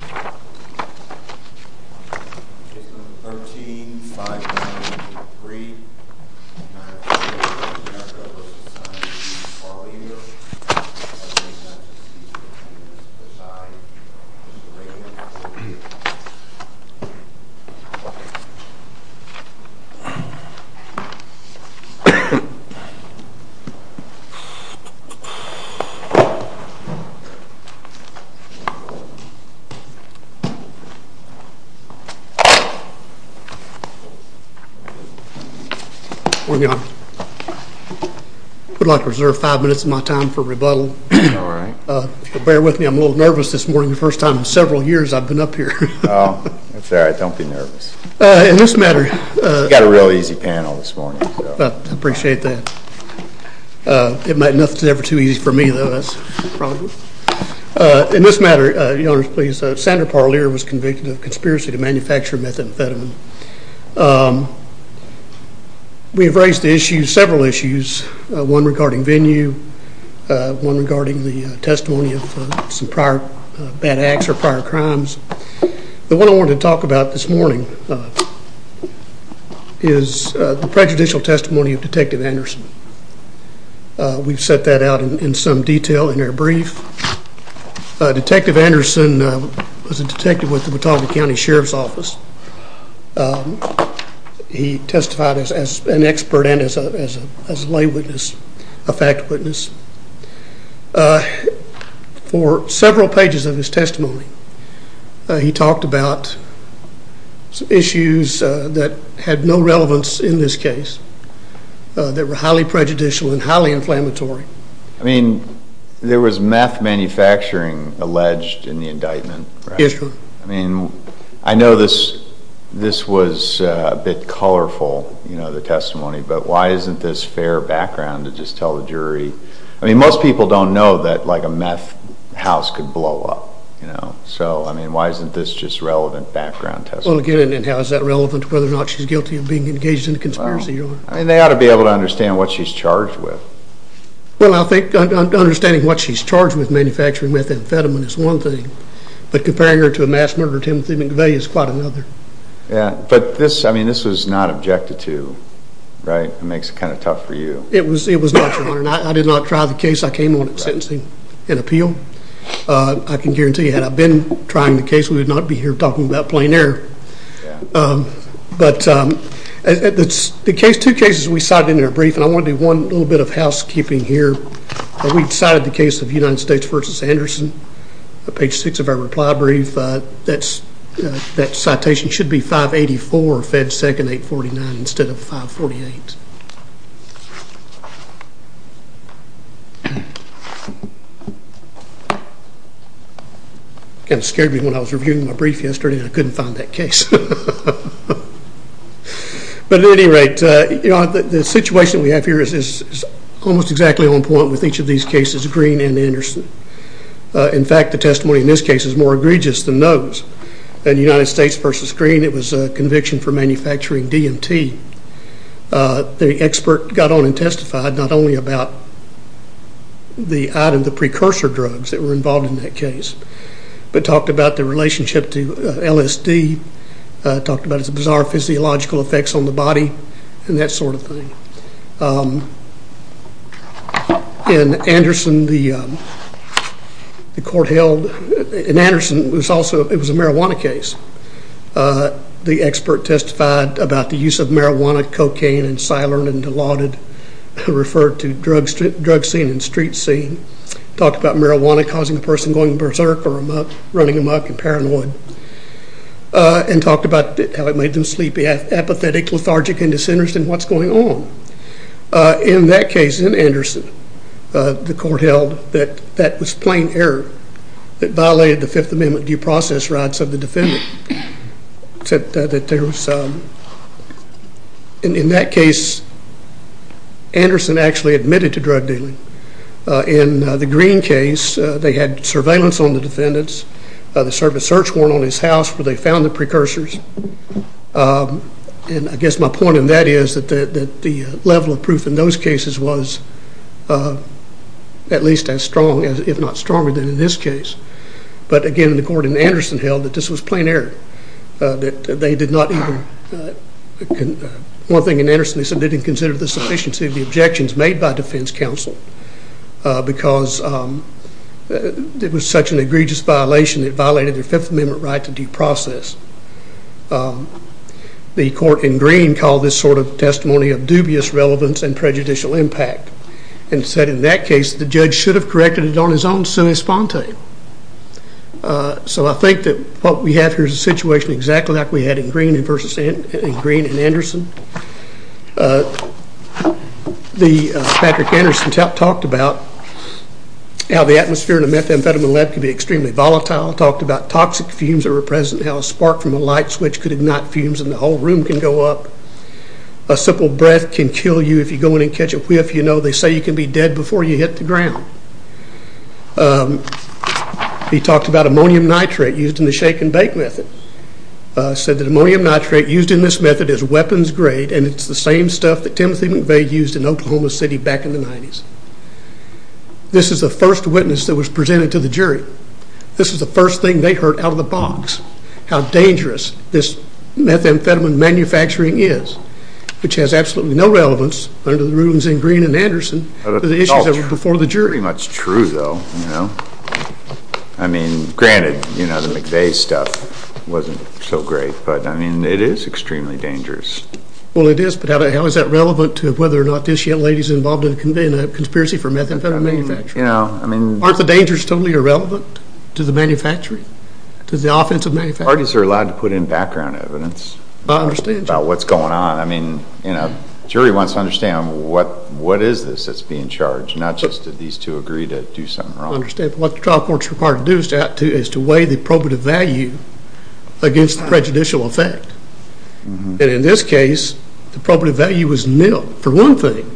12 11 15 22 A I would like to reserve five minutes of my time for rebuttal. All right. Bear with me. I'm a little nervous this morning. The first time in several years I've been up here. It's all right. Don't be nervous in this matter. Got a real easy panel this morning. I appreciate that. It might not be ever too easy for me though. That's a problem. In this matter, Your Honor, please, Senator Parlier was convicted of conspiracy to manufacture methamphetamine. We have raised several issues, one regarding venue, one regarding the testimony of some prior bad acts or prior crimes. The one I wanted to talk about this morning is the detective Anderson was a detective with the Watauga County Sheriff's Office. He testified as an expert and as a lay witness, a fact witness. For several pages of his testimony, he talked about issues that had no relevance in this case that were highly prejudicial and highly inflammatory. There was meth manufacturing alleged in the indictment, right? Yes, Your Honor. I know this was a bit colorful, the testimony, but why isn't this fair background to just tell the jury? Most people don't know that a meth house could blow up. Why isn't this just relevant background testimony? Well, again, how is that relevant to whether or not she's guilty of being engaged in a conspiracy, Your Honor? They ought to be able to understand what she's charged with. Well, I think understanding what she's charged with, manufacturing methamphetamine, is one thing, but comparing her to a mass murderer, Timothy McVeigh, is quite another. But this, I mean, this was not objected to, right? It makes it kind of tough for you. It was not, Your Honor. I did not try the case. I came on it sentencing and appeal. I can guarantee you, had I been trying the case, we would not be here talking about plain error. But the case, two cases we cited in our brief, and I want to do one little bit of housekeeping here. We cited the case of United States v. Anderson, page 6 of our reply brief. That citation should be 584, Fed 2nd 849, instead of 548. It kind of scared me when I was reviewing my brief yesterday and I couldn't find that case. But at any rate, the situation we have here is almost exactly on point with each of these cases, Green and Anderson. In fact, the testimony in this case is more egregious than those. United States v. Green, it was a conviction for manufacturing DMT. The expert got on and testified not only about the precursor drugs that were involved in that case, but talked about the relationship to LSD, talked about its bizarre physiological effects on the body and that sort of thing. In Anderson, the court held, in Anderson it was also talked about the use of marijuana, cocaine, and silent and allotted, referred to drug scene and street scene. Talked about marijuana causing a person going berserk or running amok and paranoid. And talked about how it made them sleepy, apathetic, lethargic, and disinterested in what's going on. In that case, in Anderson, the court held that that was plain error. It violated the In that case, Anderson actually admitted to drug dealing. In the Green case, they had surveillance on the defendants. They served a search warrant on his house where they found the precursors. I guess my point in that is that the level of proof in those cases was at least as strong, if not stronger, than in this case. But again, the court in Anderson held that this was plain error. One thing in Anderson, they said they didn't consider the sufficiency of the objections made by defense counsel because it was such an egregious violation, it violated their Fifth Amendment right to due process. The court in Green called this sort of testimony of dubious relevance and prejudicial impact and said in that case, the judge should have corrected it on his own semi-spontane. So I think that what we have here is a situation exactly like we had in Green versus Anderson. Patrick Anderson talked about how the atmosphere in a methamphetamine lab can be extremely volatile. Talked about toxic fumes that were present, how a spark from a light switch could ignite fumes and the whole room can go up. A simple breath can kill you if you go in and catch a whiff. They say you can be dead before you hit the ground. He talked about ammonium nitrate used in the shake and bake method. He said that ammonium nitrate used in this method is weapons grade and it's the same stuff that Timothy McVeigh used in Oklahoma City back in the 90's. This is the first witness that was presented to the jury. This is the first thing they heard out of the box how dangerous this methamphetamine manufacturing is. Which has absolutely no relevance under the rulings in Green and Anderson to the issues before the jury. That's pretty much true though. I mean granted the McVeigh stuff wasn't so great, but it is extremely dangerous. Well it is, but how is that relevant to whether or not this young lady is involved in a conspiracy for being irrelevant to the manufacturing, to the offensive manufacturing? Parties are allowed to put in background evidence about what's going on. I mean, the jury wants to understand what is this that's being charged, not just do these two agree to do something wrong. I understand, but what the trial court is required to do is to weigh the probative value against the prejudicial effect. And in this case, the probative value was nil for one thing.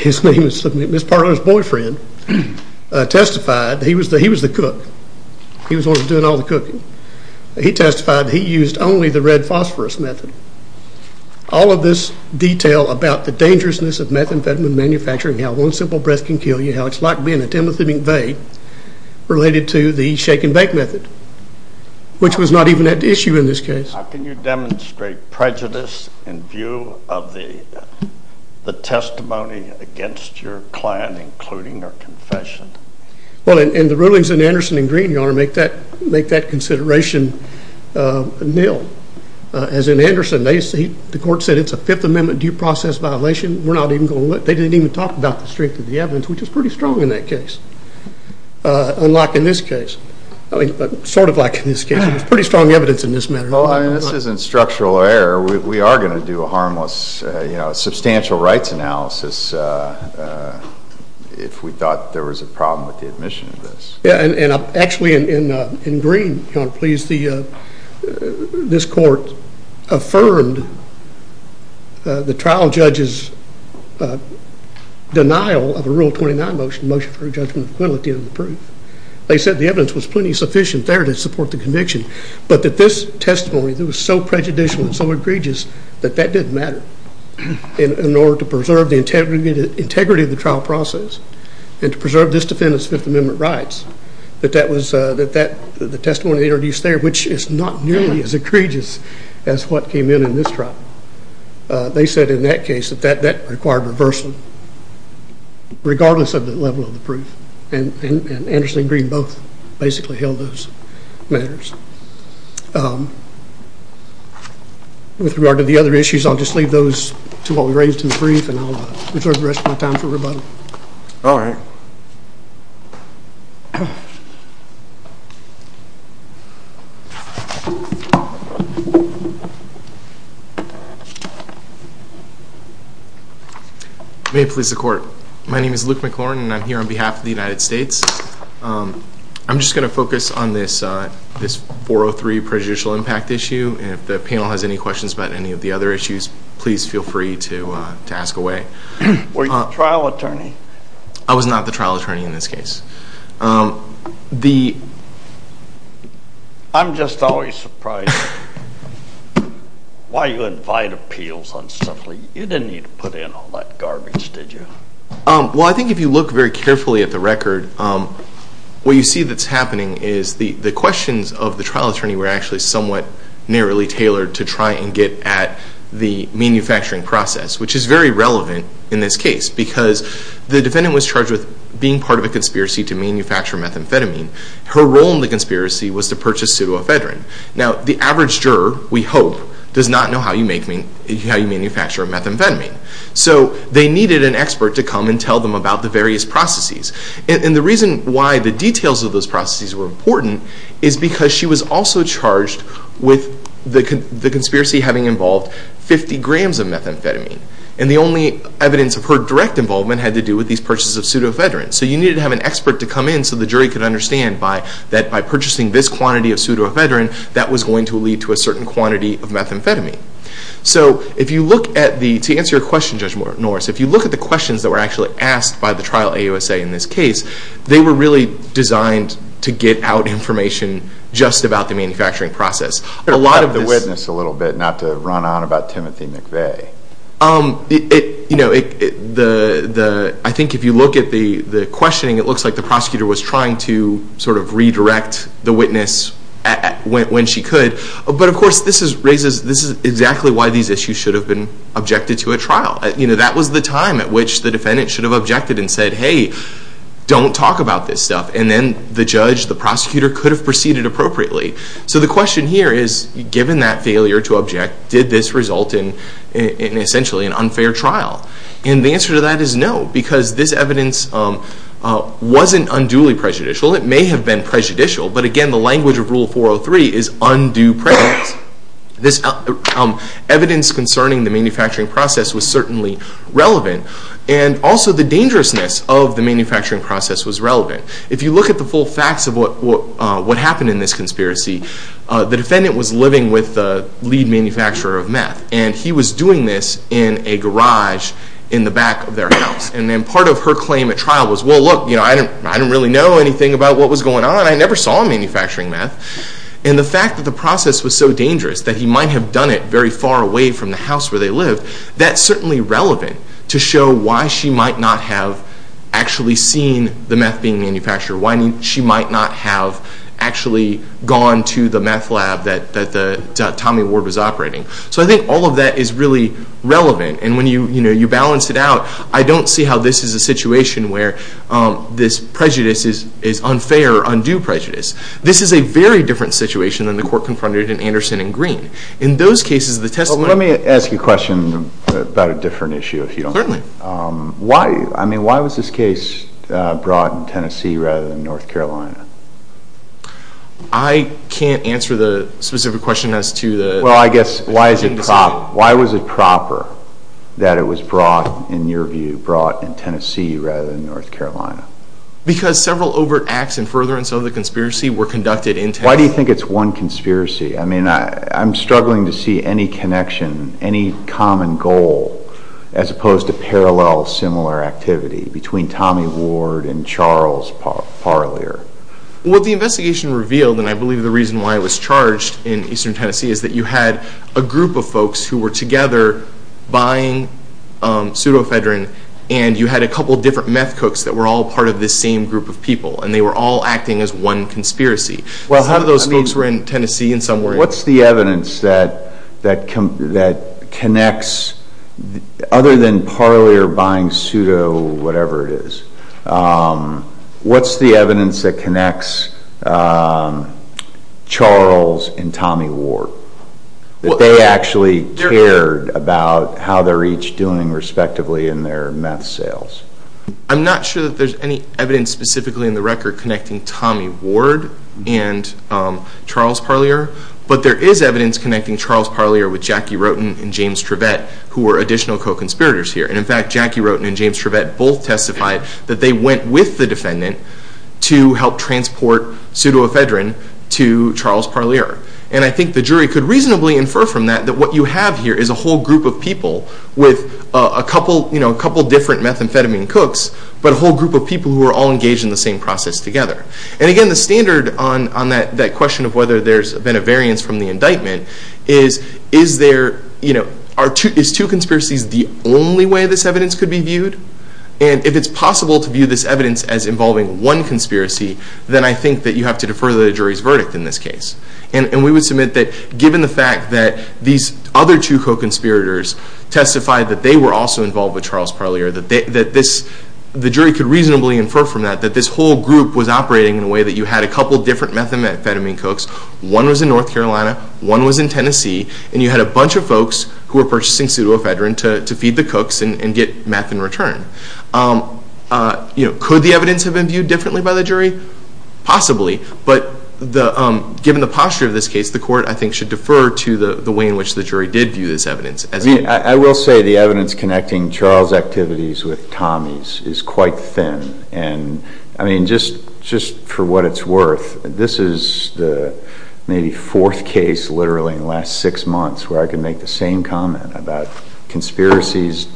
His name is Ms. Parler's boyfriend testified that he was the cook. He was the one doing all the cooking. He testified that he used only the red phosphorus method. All of this detail about the dangerousness of methamphetamine manufacturing, how one simple breath can kill you, how it's like being a Timothy McVeigh related to the shake and bake method, which was not even at issue in this case. How can you demonstrate prejudice in view of the testimony against your client, including her confession? Well, and the rulings in Anderson and Green, Your Honor, make that consideration nil. As in Anderson, the court said it's a Fifth Amendment due process violation. They didn't even talk about the strength of the evidence, which is pretty strong in that case. Unlike in this case. I mean, sort of like in this case. There's pretty strong evidence in this matter. Well, I mean, this isn't structural error. We are going to do a harmless, you know, substantial rights analysis if we thought there was a problem with the admission of this. Yeah, and actually in Green, Your Honor, please, this court affirmed the trial judge's denial of a Rule 29 motion, Motion for a Judgment of Equality of the Proof. They said the evidence was plenty sufficient there to support the conviction, but that this testimony that was so prejudicial and so egregious that that didn't matter in order to preserve the integrity of the trial process and to preserve this defendant's Fifth Amendment rights. That the testimony they introduced there, which is not nearly as egregious as what came in in this trial, they said in that case that that required reversal, regardless of the level of the proof. And Anderson and Green both basically held those matters. With regard to the other issues, I'll just leave those to what we raised in the brief and I'll reserve the rest of my time for rebuttal. May it please the Court. My name is Luke McLaurin and I'm here on behalf of the United States. I'm just going to focus on this 403 prejudicial impact issue and if the I was not the trial attorney in this case. I'm just always surprised why you invite appeals. You didn't need to put in all that garbage, did you? Well, I think if you look very carefully at the record, what you see that's happening is the questions of the trial attorney were actually somewhat narrowly tailored to try and get at the manufacturing process, which is very relevant in this case because the defendant was charged with being part of a conspiracy to manufacture methamphetamine. Her role in the conspiracy was to purchase pseudoephedrine. Now, the average juror, we hope, does not know how you manufacture a methamphetamine. So they needed an expert to come and tell them about the various processes. And the reason why the details of those processes were important is because she was also charged with the conspiracy having involved 50 grams of methamphetamine. And the only evidence of her direct involvement had to do with these purchases of pseudoephedrine. So you needed to have an expert to come in so the jury could understand that by purchasing this quantity of pseudoephedrine, that was going to lead to a certain quantity of methamphetamine. So if you look at the, to answer your question Judge Norris, if you look at the questions that were actually asked by the trial AUSA in this case, they were really designed to get out information just about the manufacturing process. A lot of this... ...the witness a little bit, not to run on about Timothy McVeigh. I think if you look at the questioning, it looks like the prosecutor was trying to sort of redirect the witness when she could. But of course, this is exactly why these issues should have been objected to at trial. That was the time at which the defendant should have objected and said, hey, don't talk about this stuff. And then the judge, the prosecutor could have proceeded appropriately. So the question here is, given that failure to object, did this result in essentially an unfair trial? And the answer to that is no. Because this evidence wasn't unduly prejudicial. It may have been prejudicial. But again, the language of Rule 403 is undue prejudice. Evidence concerning the manufacturing process was certainly relevant. And also the dangerousness of the manufacturing process was relevant. If you look at the full facts of what happened in this conspiracy, the defendant was living with the lead manufacturer of meth. And he was doing this in a garage in the back of their house. And then part of her claim at trial was, well, look, I didn't really know anything about what was going on. I never saw him manufacturing meth. And the fact that the process was so dangerous that he might have done it very far away from the house where they lived, that's certainly relevant to show why she might not have actually seen the meth being manufactured. Why she might not have actually gone to the meth lab that Tommy Ward was operating. So I think all of that is really relevant. And when you balance it out, I don't see how this is a situation where this prejudice is unfair or undue prejudice. This is a very different situation than the court confronted in Anderson and Green. Let me ask you a question about a different issue. Why was this case brought in Tennessee rather than North Carolina? I can't answer the specific question as to the Well, I guess, why was it proper that it was brought, in your view, brought in Tennessee rather than North Carolina? Because several overt acts and furtherance of the conspiracy were conducted in Tennessee. Why do you think it's one conspiracy? I mean, I'm struggling to see any connection, any common goal, as opposed to parallel similar activity between Tommy Ward and Charles Parlier. Well, the investigation revealed, and I believe the reason why it was charged in eastern Tennessee, is that you had a group of folks who were together buying pseudofedrin, and you had a couple different meth cooks that were all part of this same group of people, and they were all acting as one conspiracy. Some of those folks were in Tennessee in some way. What's the evidence that connects, other than Parlier buying pseudo-whatever-it-is, what's the evidence that connects Charles and Tommy Ward? That they actually cared about how they're each doing, respectively, in their meth sales? I'm not sure that there's any evidence specifically in the record connecting Tommy Ward and Charles Parlier, but there is evidence connecting Charles Parlier with Jackie Roten and James Trevett, who were additional co-conspirators here. And in fact, Jackie Roten and James Trevett both testified that they went with the defendant to help transport pseudofedrin to Charles Parlier. And I think the jury could reasonably infer from that that what you have here is a whole group of people with a couple different methamphetamine cooks, but a whole group of people who are all engaged in the same process together. And again, the standard on that question of whether there's been a variance from the indictment is is two conspiracies the only way this evidence could be viewed? And if it's possible to view this evidence as involving one conspiracy, then I think that you have to defer the jury's verdict in this case. And we would submit that given the fact that these other two co-conspirators testified that they were also involved with Charles Parlier, that the jury could reasonably infer from that that this whole group was operating in a way that you had a couple different methamphetamine cooks. One was in North Carolina, one was in Tennessee, and you had a bunch of folks who were purchasing pseudofedrin to feed the cooks and get methamphetamine in return. Could the evidence have been viewed differently by the jury? Possibly. But given the posture of this case, the court, I think, should defer to the way in which the jury did view this evidence. I will say the evidence connecting Charles' activities with Tommy's is quite thin. And I mean, just for what it's worth, this is the maybe fourth case literally in the last six months where I can make the same comment about conspiracies.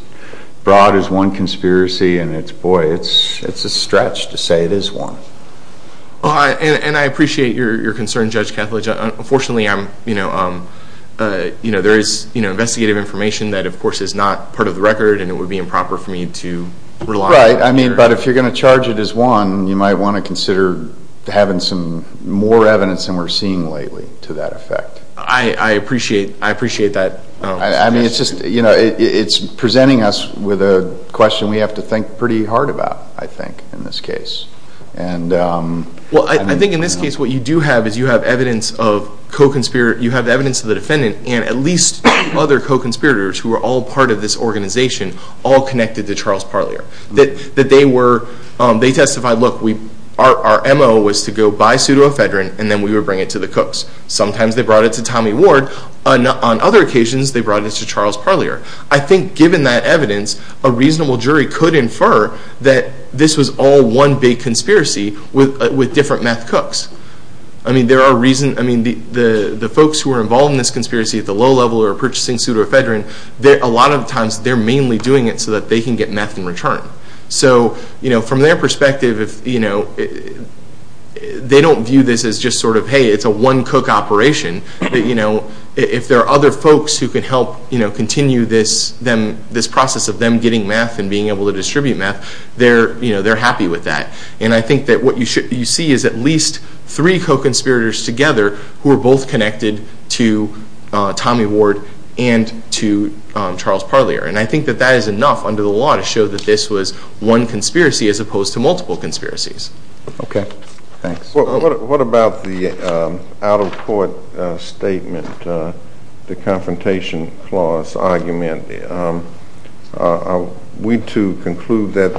Broad is one conspiracy, and it's, boy, it's a stretch to say it is one. And I appreciate your concern, Judge Kethledge. Unfortunately, there is investigative information that, of course, is not part of the record, and it would be improper for me to rely on it. But if you're going to charge it as one, you might want to consider having some more evidence than we're seeing lately to that effect. I appreciate that. I mean, it's just, you know, it's presenting us with a question we have to think pretty hard about, I think, in this case. Well, I think in this case what you do have is you have evidence of co-conspirator, you have evidence of the defendant and at least other co-conspirators who are all part of this organization all connected to Charles Parlier. That they were, they testified, look, our MO was to go buy pseudoephedrine and then we would bring it to the cooks. Sometimes they brought it to Tommy Ward. On other occasions, they brought it to Charles Parlier. I think, given that evidence, a reasonable jury could infer that this was all one big conspiracy with different meth cooks. I mean, there are reasons, I mean, the folks who are involved in this conspiracy at the low level who are purchasing pseudoephedrine, a lot of times they're mainly doing it so that they can get meth in return. So, you know, from their perspective, you know, they don't view this as just sort of, hey, it's a one cook operation. You know, if there are other folks who can help, you know, continue this process of them getting meth and being able to distribute meth, they're happy with that. And I think that what you see is at least three co-conspirators together who are both connected to Tommy Ward and to Charles Parlier. And I think that that is enough under the law to show that this was one conspiracy as opposed to multiple conspiracies. Okay. Thanks. What about the out-of-court statement, the confrontation clause argument? Are we to conclude that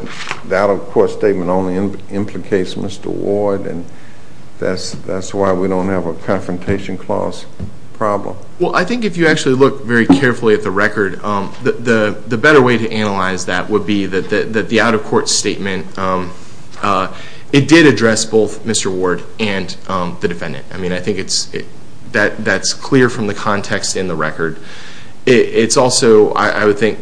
the out-of-court statement only implicates Mr. Ward and that's why we don't have a confrontation clause problem? Well, I think if you actually look very carefully at the record, the better way to analyze that would be that the out-of-court statement, it did address both Mr. Ward and the defendant. I mean, I think that's clear from the context in the record. It's also, I would think,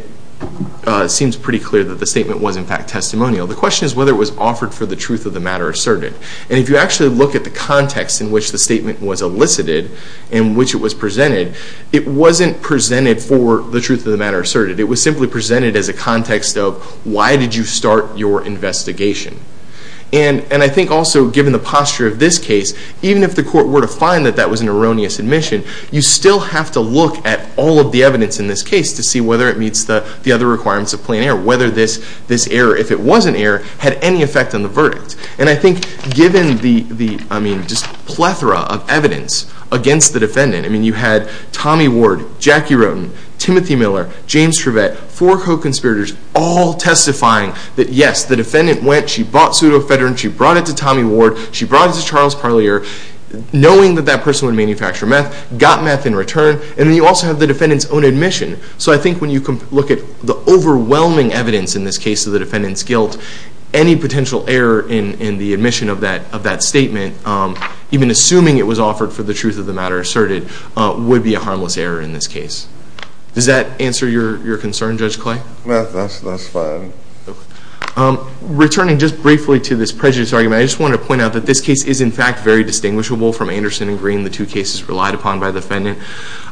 seems pretty clear that the statement was in fact testimonial. The question is whether it was offered for the truth of the matter asserted. And if you actually look at the context in which the statement was elicited and which it was presented, it wasn't presented for the truth of the matter asserted. It was simply presented as a context of why did you start your investigation? And I think also given the posture of this case, even if the court were to find that that was an erroneous admission, you still have to look at all of the evidence in this case to see whether it meets the other requirements of plain error, whether this error, if it was an error, had any effect on the verdict. And I think given the plethora of evidence against the defendant, I mean, you had Tommy Ward, Jackie Roden, Timothy Miller, James Trevett, four co-conspirators all testifying that yes, the defendant went, she bought pseudoephedrine, she brought it to Tommy Ward, she brought it to Charles Parlier knowing that that person would manufacture meth, got meth in return, and then you also have the defendant's own admission. So I think when you look at the overwhelming evidence in this case of the defendant's guilt, any potential error in the admission of that statement, even assuming it was offered for the truth of the matter asserted, would be a harmless error in this case. Does that answer your concern, Judge Clay? That's fine. Returning just briefly to this prejudice argument, I just want to point out that this case is in fact very distinguishable from Anderson and Green, the two cases relied upon by the defendant.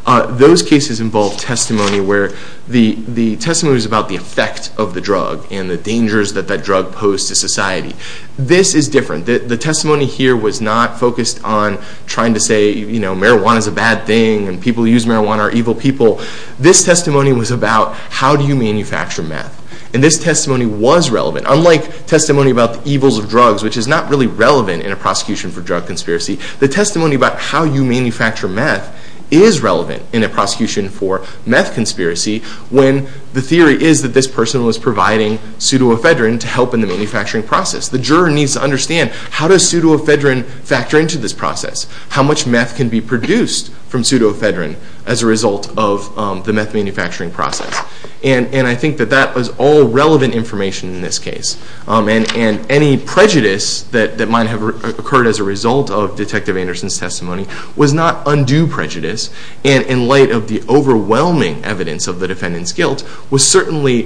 Those cases involved testimony where the testimony was about the effect of the drug and the dangers that that drug posed to society. This is different. The testimony here was not focused on trying to say, you know, marijuana is a bad thing and people who use marijuana are evil people. This testimony was about how do you manufacture meth. And this testimony was relevant. Unlike testimony about the evils of drugs, which is not really relevant in a prosecution for drug conspiracy, the testimony about how you manufacture meth is relevant in a prosecution for meth conspiracy when the theory is that this person was providing pseudoephedrine to help in the manufacturing process. The juror needs to understand how does pseudoephedrine factor into this process? How much meth can be produced from pseudoephedrine as a result of the meth manufacturing process? And I think that that was all relevant information in this case. And any prejudice that might have occurred as a result of Detective Anderson's testimony was not undue prejudice. And in light of the overwhelming evidence of the defendant's guilt, was certainly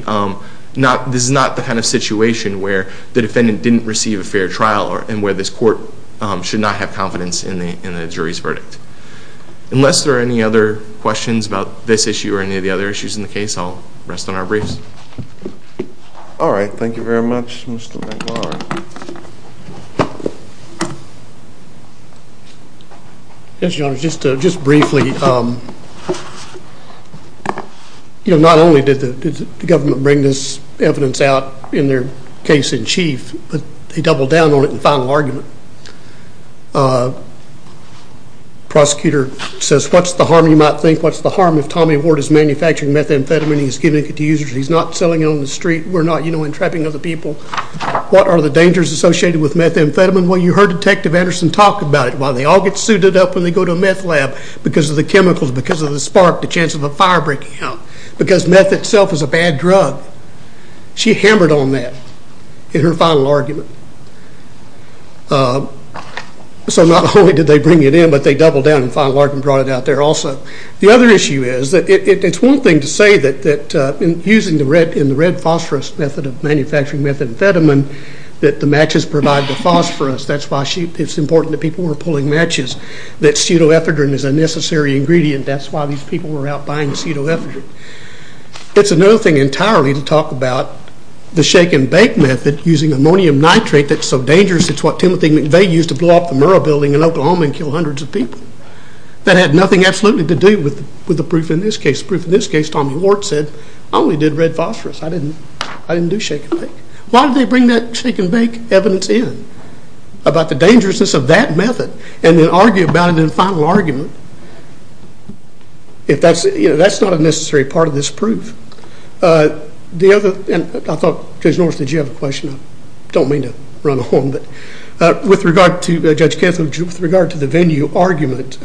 not, this is not the kind of situation where the defendant didn't receive a fair trial and where this court should not have confidence in the jury's verdict. Unless there are any other questions about this issue or any of the other issues in the case, I'll rest on our briefs. All right. Thank you very much, Mr. McLaurin. Yes, Your Honor. Just briefly, you know, not only did the government bring this evidence out in their case in chief, but they doubled down on it in the final argument. Prosecutor says, what's the harm, you might think, what's the harm if Tommy Ward is manufacturing methamphetamine, he's giving it to users, he's not selling it on the street, we're not, you know, entrapping other people. What are the dangers associated with methamphetamine? Well, you heard Detective Anderson talk about it, why they all get suited up when they go to a meth lab because of the chemicals, because of the spark, the chance of a fire breaking out, because meth itself is a bad drug. She hammered on that in her final argument. So not only did they bring it in, but they doubled down in the final argument and brought it out there also. The other issue is, it's one thing to say that using the red phosphorus method of manufacturing methamphetamine, that the matches provide the phosphorus, that's why it's important that people were pulling matches, that pseudoephedrine is a necessary ingredient, that's why these people were out buying pseudoephedrine. It's another thing entirely to talk about the shake and bake method using ammonium nitrate that's so dangerous, it's what Timothy McVeigh used to blow up the Murrah building in Oklahoma and kill hundreds of people. That had nothing absolutely to do with the proof in this case. The proof in this case, Tommy Lord said, I only did red phosphorus, I didn't do shake and bake. Why did they bring that shake and bake evidence in about the dangerousness of that method and then argue about it in the final argument? That's not a necessary part of this proof. I thought, Judge Norris, did you have a question? I don't mean to run a horn, but with regard to Judge Kethledge, with regard to the venue argument,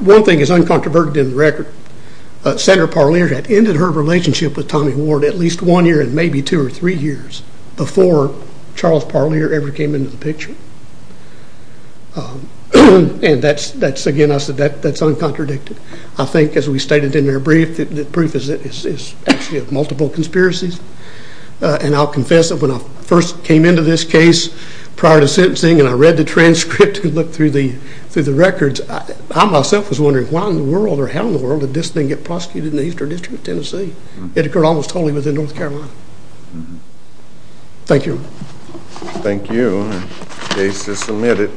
one thing is uncontroverted in the record. Senator Parlier had ended her relationship with Tommy Lord at least one year and maybe two or three years before Charles Parlier ever came into the picture. And that's, again, I said that's uncontradicted. I think as we stated in our brief, the proof is actually of multiple conspiracies and I'll confess that when I first came into this case prior to sentencing and I read the transcript and looked through the records, I myself was wondering why in the world or how in the world did this thing get prosecuted in the Eastern District of Tennessee? It occurred almost totally within North Carolina. Thank you. Thank you. The case is submitted.